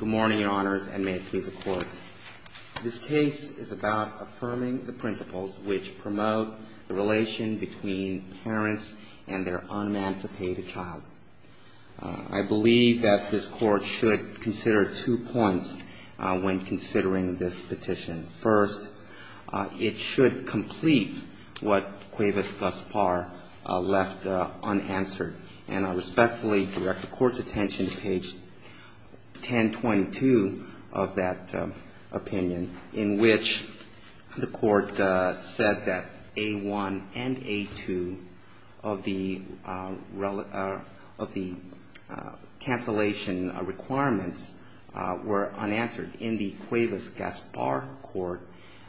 Good morning, Your Honors, and may it please the Court. This case is about affirming the principles which promote the relation between parents and their un-emancipated child. I believe that this Court should consider two points when considering this petition. First, it should complete what Cuevas-Gaspar left unanswered, and I respectfully direct the Court's attention to page 10 of the 1022 of that opinion, in which the Court said that A-1 and A-2 of the cancellation requirements were unanswered. In the Cuevas-Gaspar Court,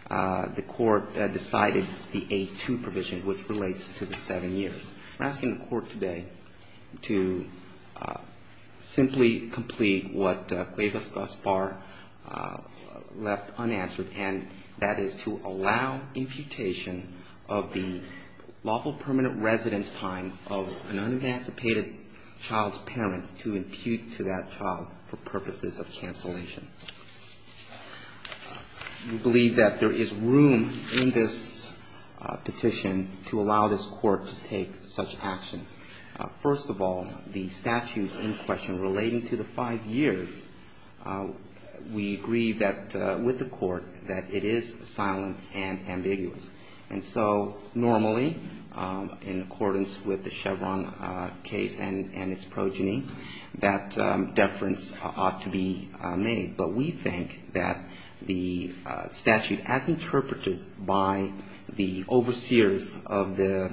the Court decided the A-2 provision, which relates to the seven years. We're asking the Court today to simply complete what Cuevas-Gaspar left unanswered, and that is to allow imputation of the lawful permanent residence time of an un-emancipated child's parents to impute to that child for purposes of cancellation. We believe that there is room in this petition to allow this Court to take such action. First of all, the statute in question relating to the five years, we agree that, with the Court, that it is silent and ambiguous. And so normally, in accordance with the Chevron case and its progeny, that deference ought to be made. But we think that the statute, as interpreted by the overseers of the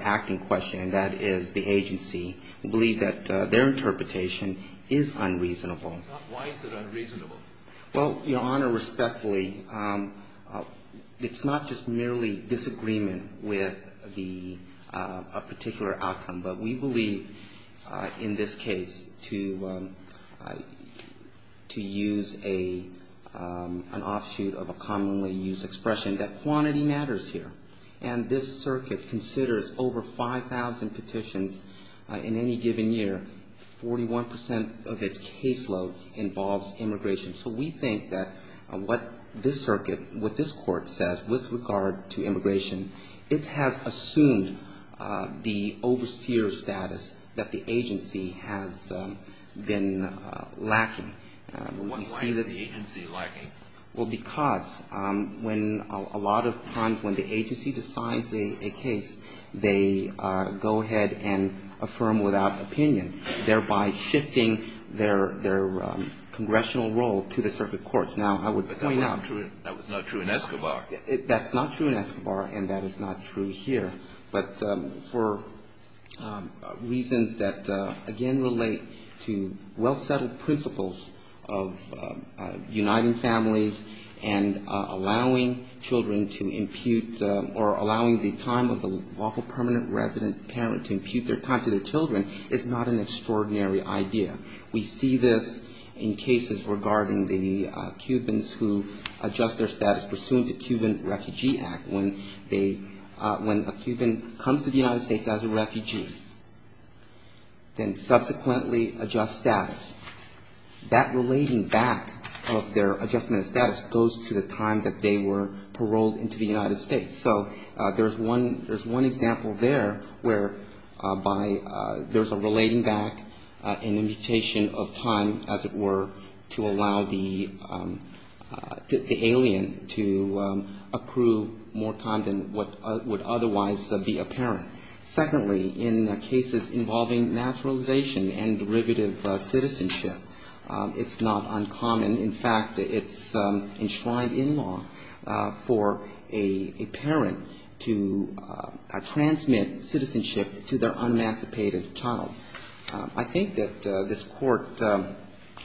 acting question, and that is the agency, we believe that their interpretation is unreasonable. Why is it unreasonable? Well, Your Honor, respectfully, it's not just merely disagreement with the particular outcome, but we believe, in this case, to use an offshoot of a commonly used expression, that quantity matters here. And this Circuit considers over 5,000 petitions in any given year. Forty-one percent of its caseload involves immigration. So we think that what this Circuit, what this Court says with regard to immigration, it has assumed the overseer status that the agency has been lacking. Why is the agency lacking? Well, because when a lot of times when the agency decides a case, they go ahead and affirm without opinion, thereby shifting their congressional role to the Circuit courts. Now, I would point out that's not true in Escobar, and that is not true here. But for reasons that, again, relate to well-settled principles of uniting families, and allowing children to impute, or allowing the time of the lawful permanent resident parent to impute their time to their children, is not an extraordinary idea. We see this in cases regarding the Cubans who adjust their status pursuant to Cuban Refugee Act, when they, when a Cuban comes to the United States as a refugee, then subsequently adjust status. That relating back of their adjustment of status goes to the time that they were paroled into the United States. So there's one example there whereby there's a relating back, an imputation of time, as it were, to allow the alien to approve more time than what would otherwise be apparent. Secondly, in cases involving naturalization and derivative citizenship, it's not uncommon. In fact, it's enshrined in law for a parent to transmit citizenship to their emancipated child. I think that this Court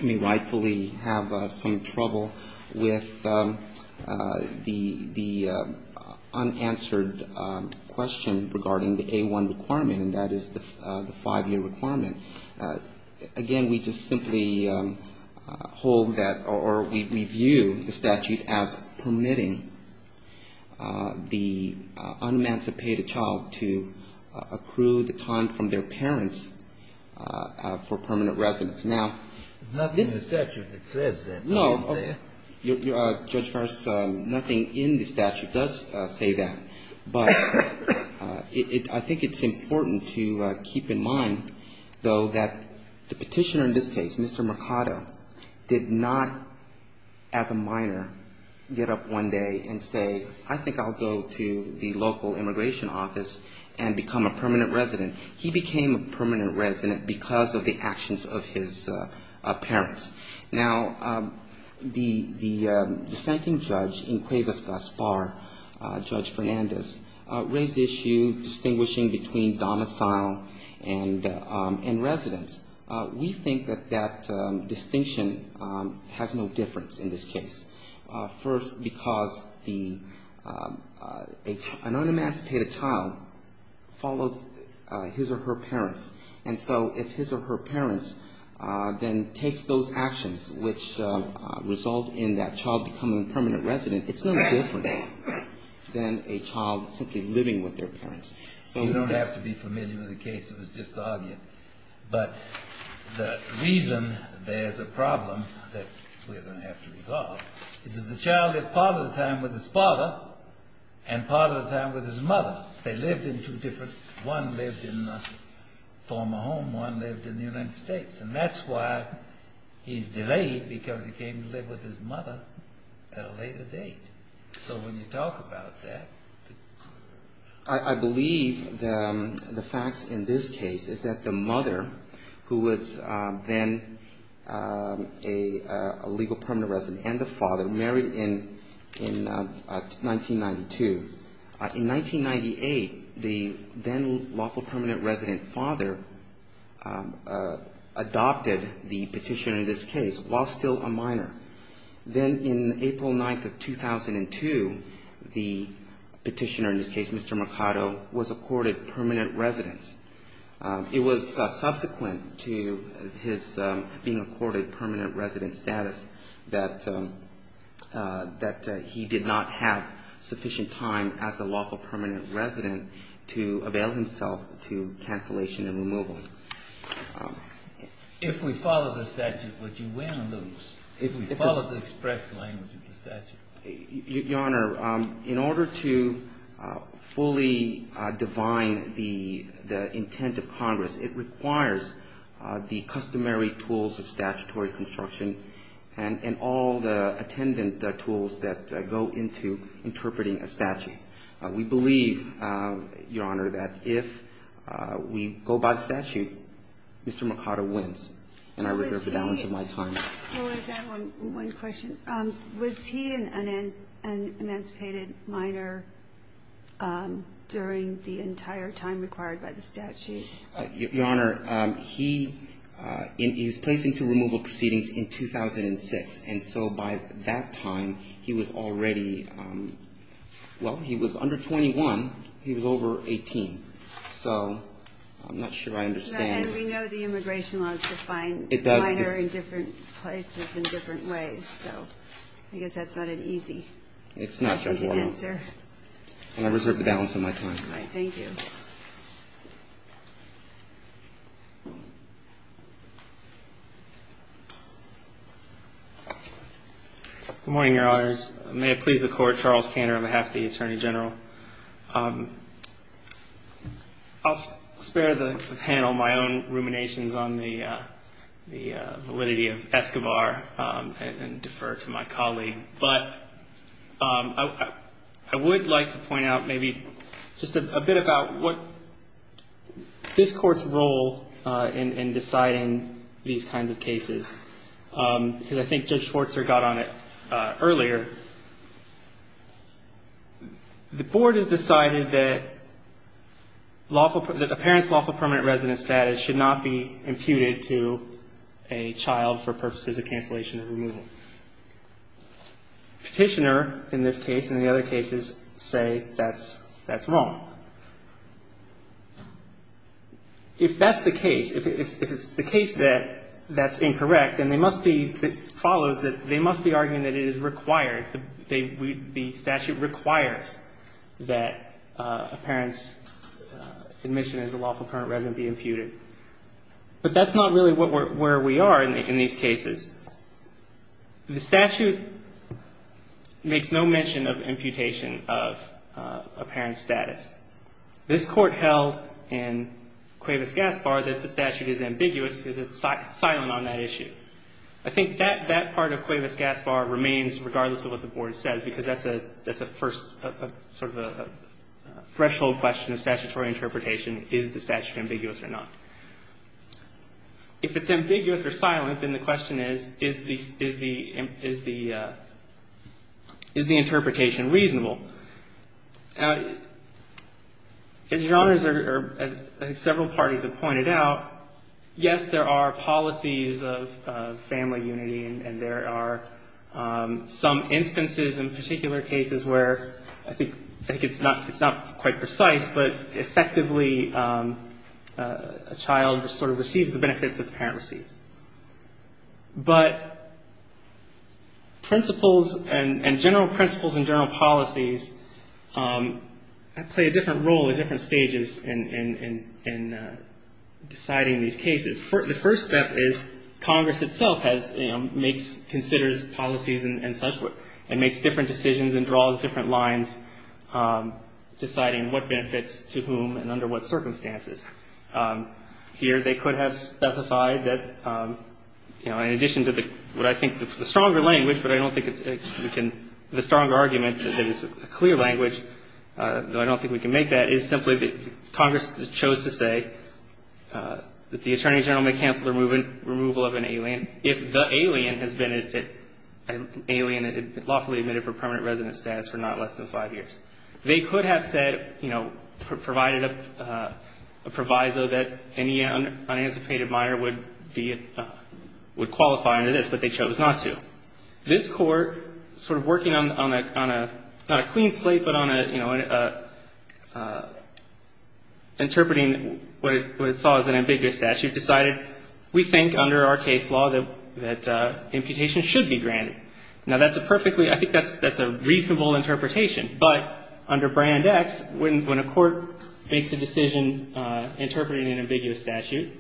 may rightfully have some trouble with the unanswered question regarding the A-1 requirement, and that is the 5-year requirement. Again, we just simply hold that, or we view the statute as permitting the un-emancipated child to accrue the time from their parents for permanent residence. Now, this is the statute that says that. Judge Farris, nothing in the statute does say that. But I think it's important to keep in mind, though, that the petitioner in this case, Mr. Mercado, did not, as a minor, get up one day and say, I think I'll go to the local immigration office and become a permanent resident. He became a permanent resident because of the actions of his parents. Now, the dissenting judge in Cuevas-Gaspar, Judge Fernandez, raised the issue distinguishing between domicile and residence. We think that that distinction has no difference in this case. First, because an un-emancipated child follows his or her parents. And so if his or her parents then takes those actions which result in that child becoming a permanent resident, it's no different than a child simply living with their parents. So you don't have to be familiar with the case. It was just the argument. But the reason there's a problem that we're going to have to resolve is that the child lived part of the time with his father and part of the time with his mother. They lived in two different... One lived in a former home, one lived in the United States. And that's why he's delayed, because he came to live with his mother at a later date. So when you talk about that... I believe the facts in this case is that the mother, who was then a legal permanent resident, and the father married in 1992. In 1998, the then lawful permanent resident father adopted the petition in this case while still a minor. Then in April 9th of 2002, the petitioner in this case, Mr. Mercado, was accorded permanent residence. It was subsequent to his being accorded permanent resident status that he did not have sufficient time as a lawful permanent resident to avail himself to cancellation and removal. If we follow the statute, would you win or lose, if we follow the express language of the statute? Your Honor, in order to fully define the intent of Congress, it requires the customary tools of statutory construction and all the attendant tools that go into interpreting a statute. We believe, Your Honor, that if we go by the statute, Mr. Mercado wins. And I reserve the balance of my time. One question. Was he an emancipated minor during the entire time required by the statute? Your Honor, he was placed into removal proceedings in 2006. And so by that time, he was already, well, he was under 21. He was over 18. So I'm not sure I understand. And we know the immigration law is defined minor in different places in different ways. So I guess that's not an easy question to answer. It's not, Your Honor. And I reserve the balance of my time. All right. Thank you. Good morning, Your Honors. May it please the Court, Charles Cantor on behalf of the Attorney General. I'll spare the panel my own ruminations on the validity of Escobar and defer to my colleague. But I would like to point out maybe just a bit about what this Court's role in deciding these kinds of cases. Because I think Judge Schwartzer got on it earlier. The Board has decided that a parent's lawful permanent resident status should not be imputed to a child for purposes of cancellation of removal. The Petitioner in this case and the other cases say that's wrong. If that's the case, if it's the case that that's incorrect, then they must be, it follows that they must be arguing that it is required, the statute requires that a parent's admission as a lawful permanent resident be imputed. But that's not really where we are in these cases. The statute makes no mention of imputation of a parent's status. This Court held in Cuevas-Gaspar that the statute is ambiguous because it's silent on that issue. I think that part of Cuevas-Gaspar remains regardless of what the Board says because that's a first, sort of a threshold question of statutory interpretation, is the statute ambiguous or not. If it's ambiguous or silent, then the question is, is the interpretation reasonable? Now, as Your Honors or several parties have pointed out, yes, there are policies of family unity, and there are some instances in particular cases where I think it's not quite precise, but effectively a child sort of receives the benefits that the parent receives. But principles and general principles and general policies play a different role at different stages in deciding these cases. The first step is Congress itself has, you know, makes, considers policies and such, and makes different decisions and draws different lines deciding what benefits to whom and under what circumstances. Here they could have specified that, you know, in addition to the, what I think the stronger language, but I don't think it's, we can, the stronger argument that is a clear language, though I don't think we can make that, is simply that Congress chose to say that the Attorney General may cancel the removal of an alien if the alien has been an alien and lawfully admitted for permanent resident status for not less than five years. They could have said, you know, provided a proviso that any unanticipated minor would be, would qualify under this, but they chose not to. This Court, sort of working on a, not a clean slate, but on a, you know, interpreting what it saw as an ambiguous statute, decided we think under our case law that imputation should be granted. Now, that's a perfectly, I think that's a reasonable interpretation, but under Brand X, when a court makes a decision interpreting an ambiguous statute,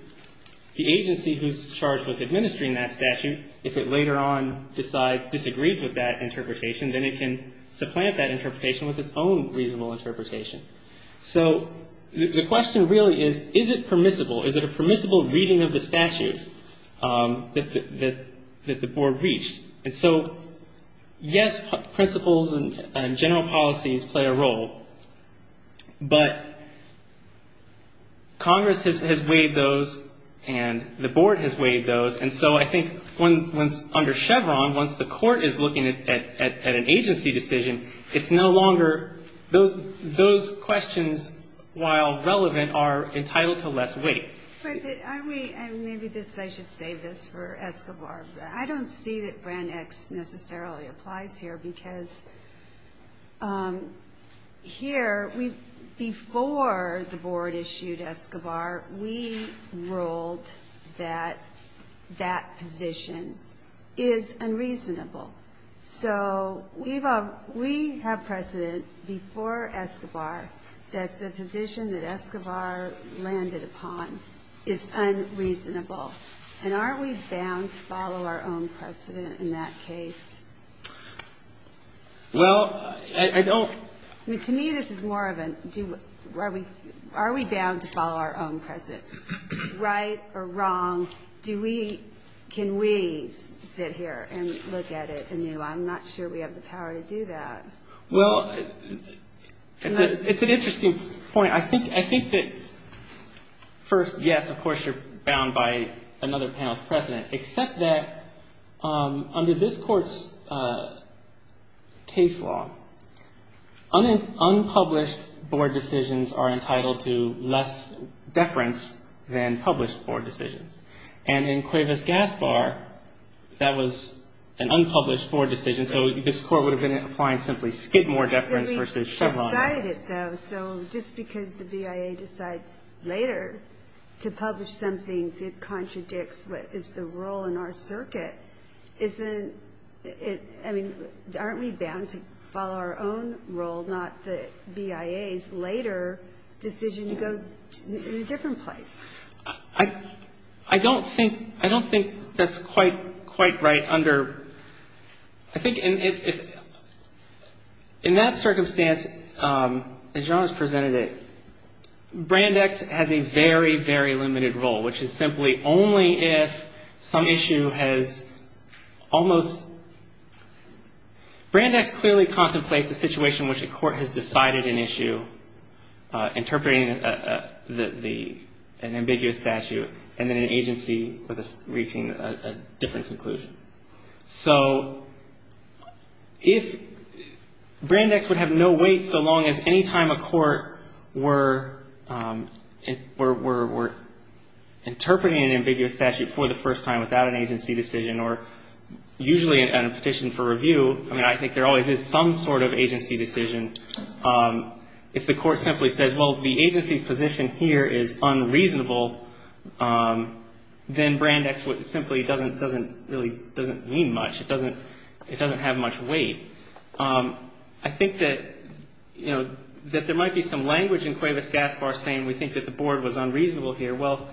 the agency who's charged with administering that statute, if it later on decides, disagrees with that interpretation, then it can supplant that interpretation with its own reasonable interpretation. So the question really is, is it permissible? Is it a permissible reading of the statute that the Board reached? And so, yes, principles and general policies play a role, but Congress has waived those and the Board has waived those, and so I think when, under Chevron, once the Court is looking at an agency decision, it's no longer, those questions, while relevant, are entitled to less weight. Ginsburg. Are we, and maybe this, I should save this for Escobar, but I don't see that Brand X necessarily applies here, because here, we, before the Board issued Escobar, we ruled that that position is unreasonable. So we've, we have precedent before Escobar that the position that Escobar landed upon is unreasonable. And are we bound to follow our own precedent in that case? Well, I don't. I mean, to me, this is more of a, do, are we, are we bound to follow our own precedent? Right or wrong, do we, can we sit here and look at it anew? I'm not sure we have the power to do that. Well, it's an interesting point. I think, I think that, first, yes, of course, you're bound by another panel's precedent. Except that, under this Court's case law, unpublished Board decisions are entitled to less deference than published Board decisions. And in Cuevas-Gaspar, that was an unpublished Board decision, so this Court would have been applying simply skid more deference versus Chevron less. I'm excited, though. So just because the BIA decides later to publish something that contradicts what is the role in our circuit, isn't it, I mean, aren't we bound to follow our own role, not the BIA's later decision to go to a different place? I, I don't think, I don't think that's quite, quite right under, I think if, in that circumstance, as Your Honor's presented it, Brandex has a very, very limited role, which is simply only if some issue has almost, Brandex clearly contemplates a situation which the Court has decided an issue, interpreting the, the, an ambiguous statute, and then an agency with a, reaching a, a different conclusion. So if Brandex would have no weight so long as any time a court were, were, were, were interpreting an ambiguous statute for the first time without an agency decision or usually at a petition for review, I mean, I think there always is some sort of agency decision. If the Court simply says, well, the agency's position here is unreasonable, then Brandex simply doesn't, doesn't really, doesn't mean much. It doesn't, it doesn't have much weight. I think that, you know, that there might be some language in Cuevas-Gaspar saying we think that the Board was unreasonable here. Well,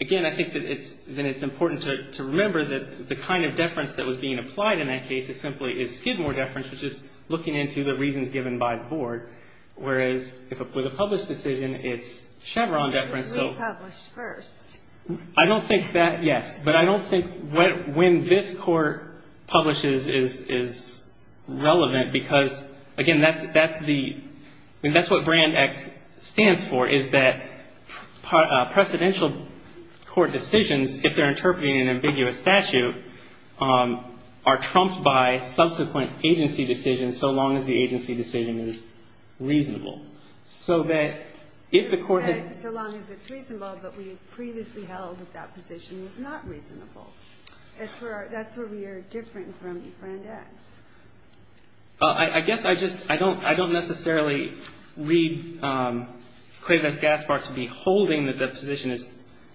again, I think that it's, that it's important to, to remember that the kind of deference that was being applied in that case is simply, is Skidmore deference, which is looking into the reasons given by the Board, whereas if a, with a published decision, it's Chevron deference, so. I don't think that, yes, but I don't think when this Court publishes is, is relevant because, again, that's, that's the, I mean, that's what Brandex stands for, is that presidential Court decisions, if they're interpreting an ambiguous statute, are trumped by subsequent agency decisions so long as the agency decision is reasonable. So that if the Court had. So long as it's reasonable, but we previously held that that position was not reasonable. That's where, that's where we are different from Brandex. I guess I just, I don't, I don't necessarily read Cuevas-Gaspar to be holding that the position is,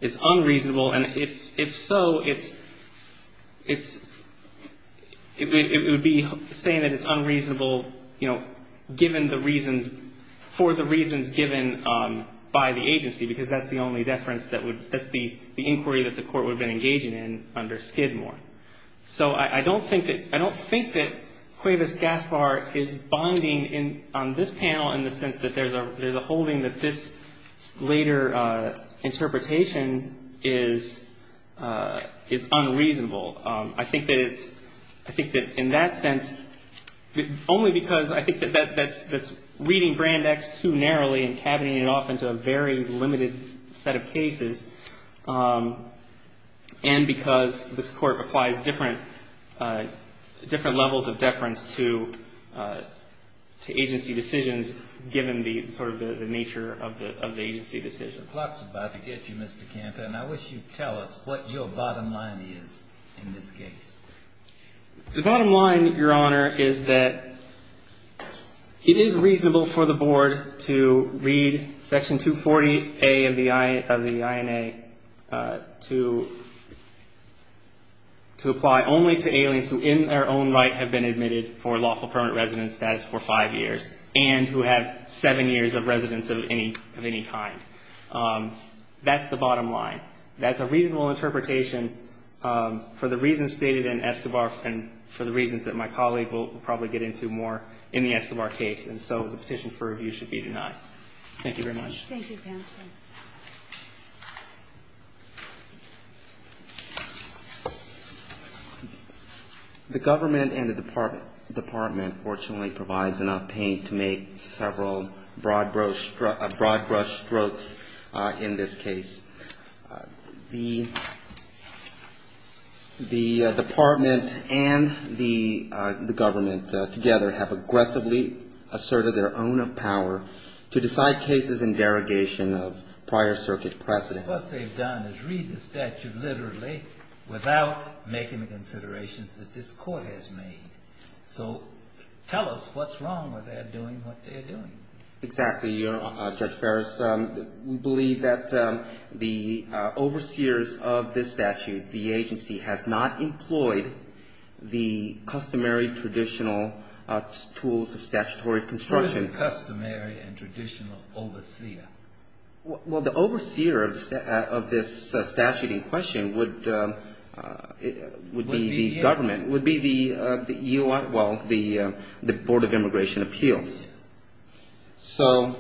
is unreasonable. And if, if so, it's, it's, it would be saying that it's unreasonable, you know, given the reasons, for the reasons given by the agency, because that's the only deference that would, that's the inquiry that the Court would have been engaging in under Skidmore. So I don't think that, I don't think that Cuevas-Gaspar is bonding in, on this panel in the sense that there's a, there's a holding that this later interpretation is, is unreasonable. I think that it's, I think that in that sense, only because I think that that's, that's reading Brandex too narrowly and cabineting it off into a very limited set of cases, and because this Court applies different, different levels of deference to, to agency decisions, given the, sort of the nature of the, of the agency decision. Mr. Klotz is about to get you, Mr. Campa, and I wish you'd tell us what your bottom line is in this case. The bottom line, Your Honor, is that it is reasonable for the Board to read Section 240A of the, of the INA to, to apply only to aliens who in their own right have been admitted for lawful permanent residence status for five years and who have seven years of residence of any, of any kind. That's the bottom line. That's a reasonable interpretation for the reasons stated in Escobar and for the reasons that my colleague will probably get into more in the Escobar case, and so the petition for review should be denied. Thank you very much. Thank you, counsel. The government and the department fortunately provides enough paint to make several broad-brush strokes in this case. The, the department and the government together have aggressively asserted their own power to decide cases in derogatory circumstances, and they've done so in the interrogation of prior circuit precedent. But what they've done is read the statute literally without making the considerations that this Court has made. So tell us what's wrong with their doing what they're doing. Exactly, Your Honor. Judge Ferris, we believe that the overseers of this statute, the agency, has not employed the customary traditional tools of statutory enforcement. Well, the overseer of this statute in question would be the government, would be the U.R. well, the Board of Immigration Appeals. So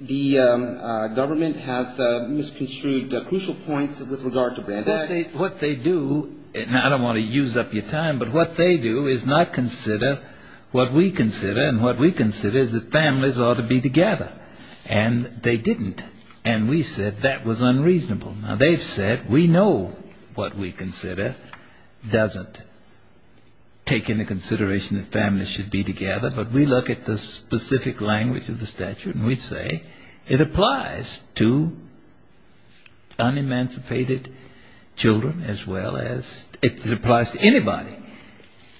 the government has misconstrued crucial points with regard to bandits. What they do, and I don't want to use up your time, but what they do is not consider what we consider to be together. And they didn't. And we said that was unreasonable. Now, they've said we know what we consider doesn't take into consideration that families should be together, but we look at the specific language of the statute, and we say it applies to unemancipated children as well as it applies to anybody.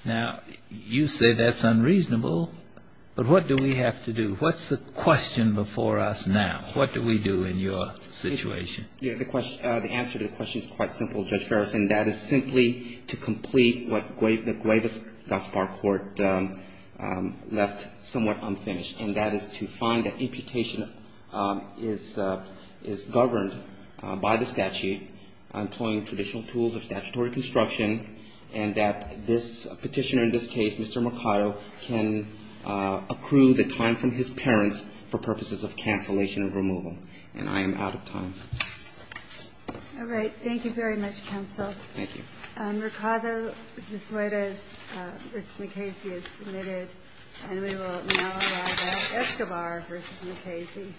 Now, you say that's unreasonable, but what do we have to do? What's the question before us now? What do we do in your situation? The answer to the question is quite simple, Judge Ferris, and that is simply to complete what the Guaivas-Gaspar Court left somewhat unfinished, and that is to find that imputation is governed by the statute, employing traditional tools of statutory construction, and that this petitioner in this case, Mr. Mercado, can accrue the time from his parents for purposes of cancellation of removal. And I am out of time. All right. Thank you very much, counsel. Thank you. Mercado de Suarez v. McCasey is submitted, and we will now allow that Escobar v. McCasey. Thank you.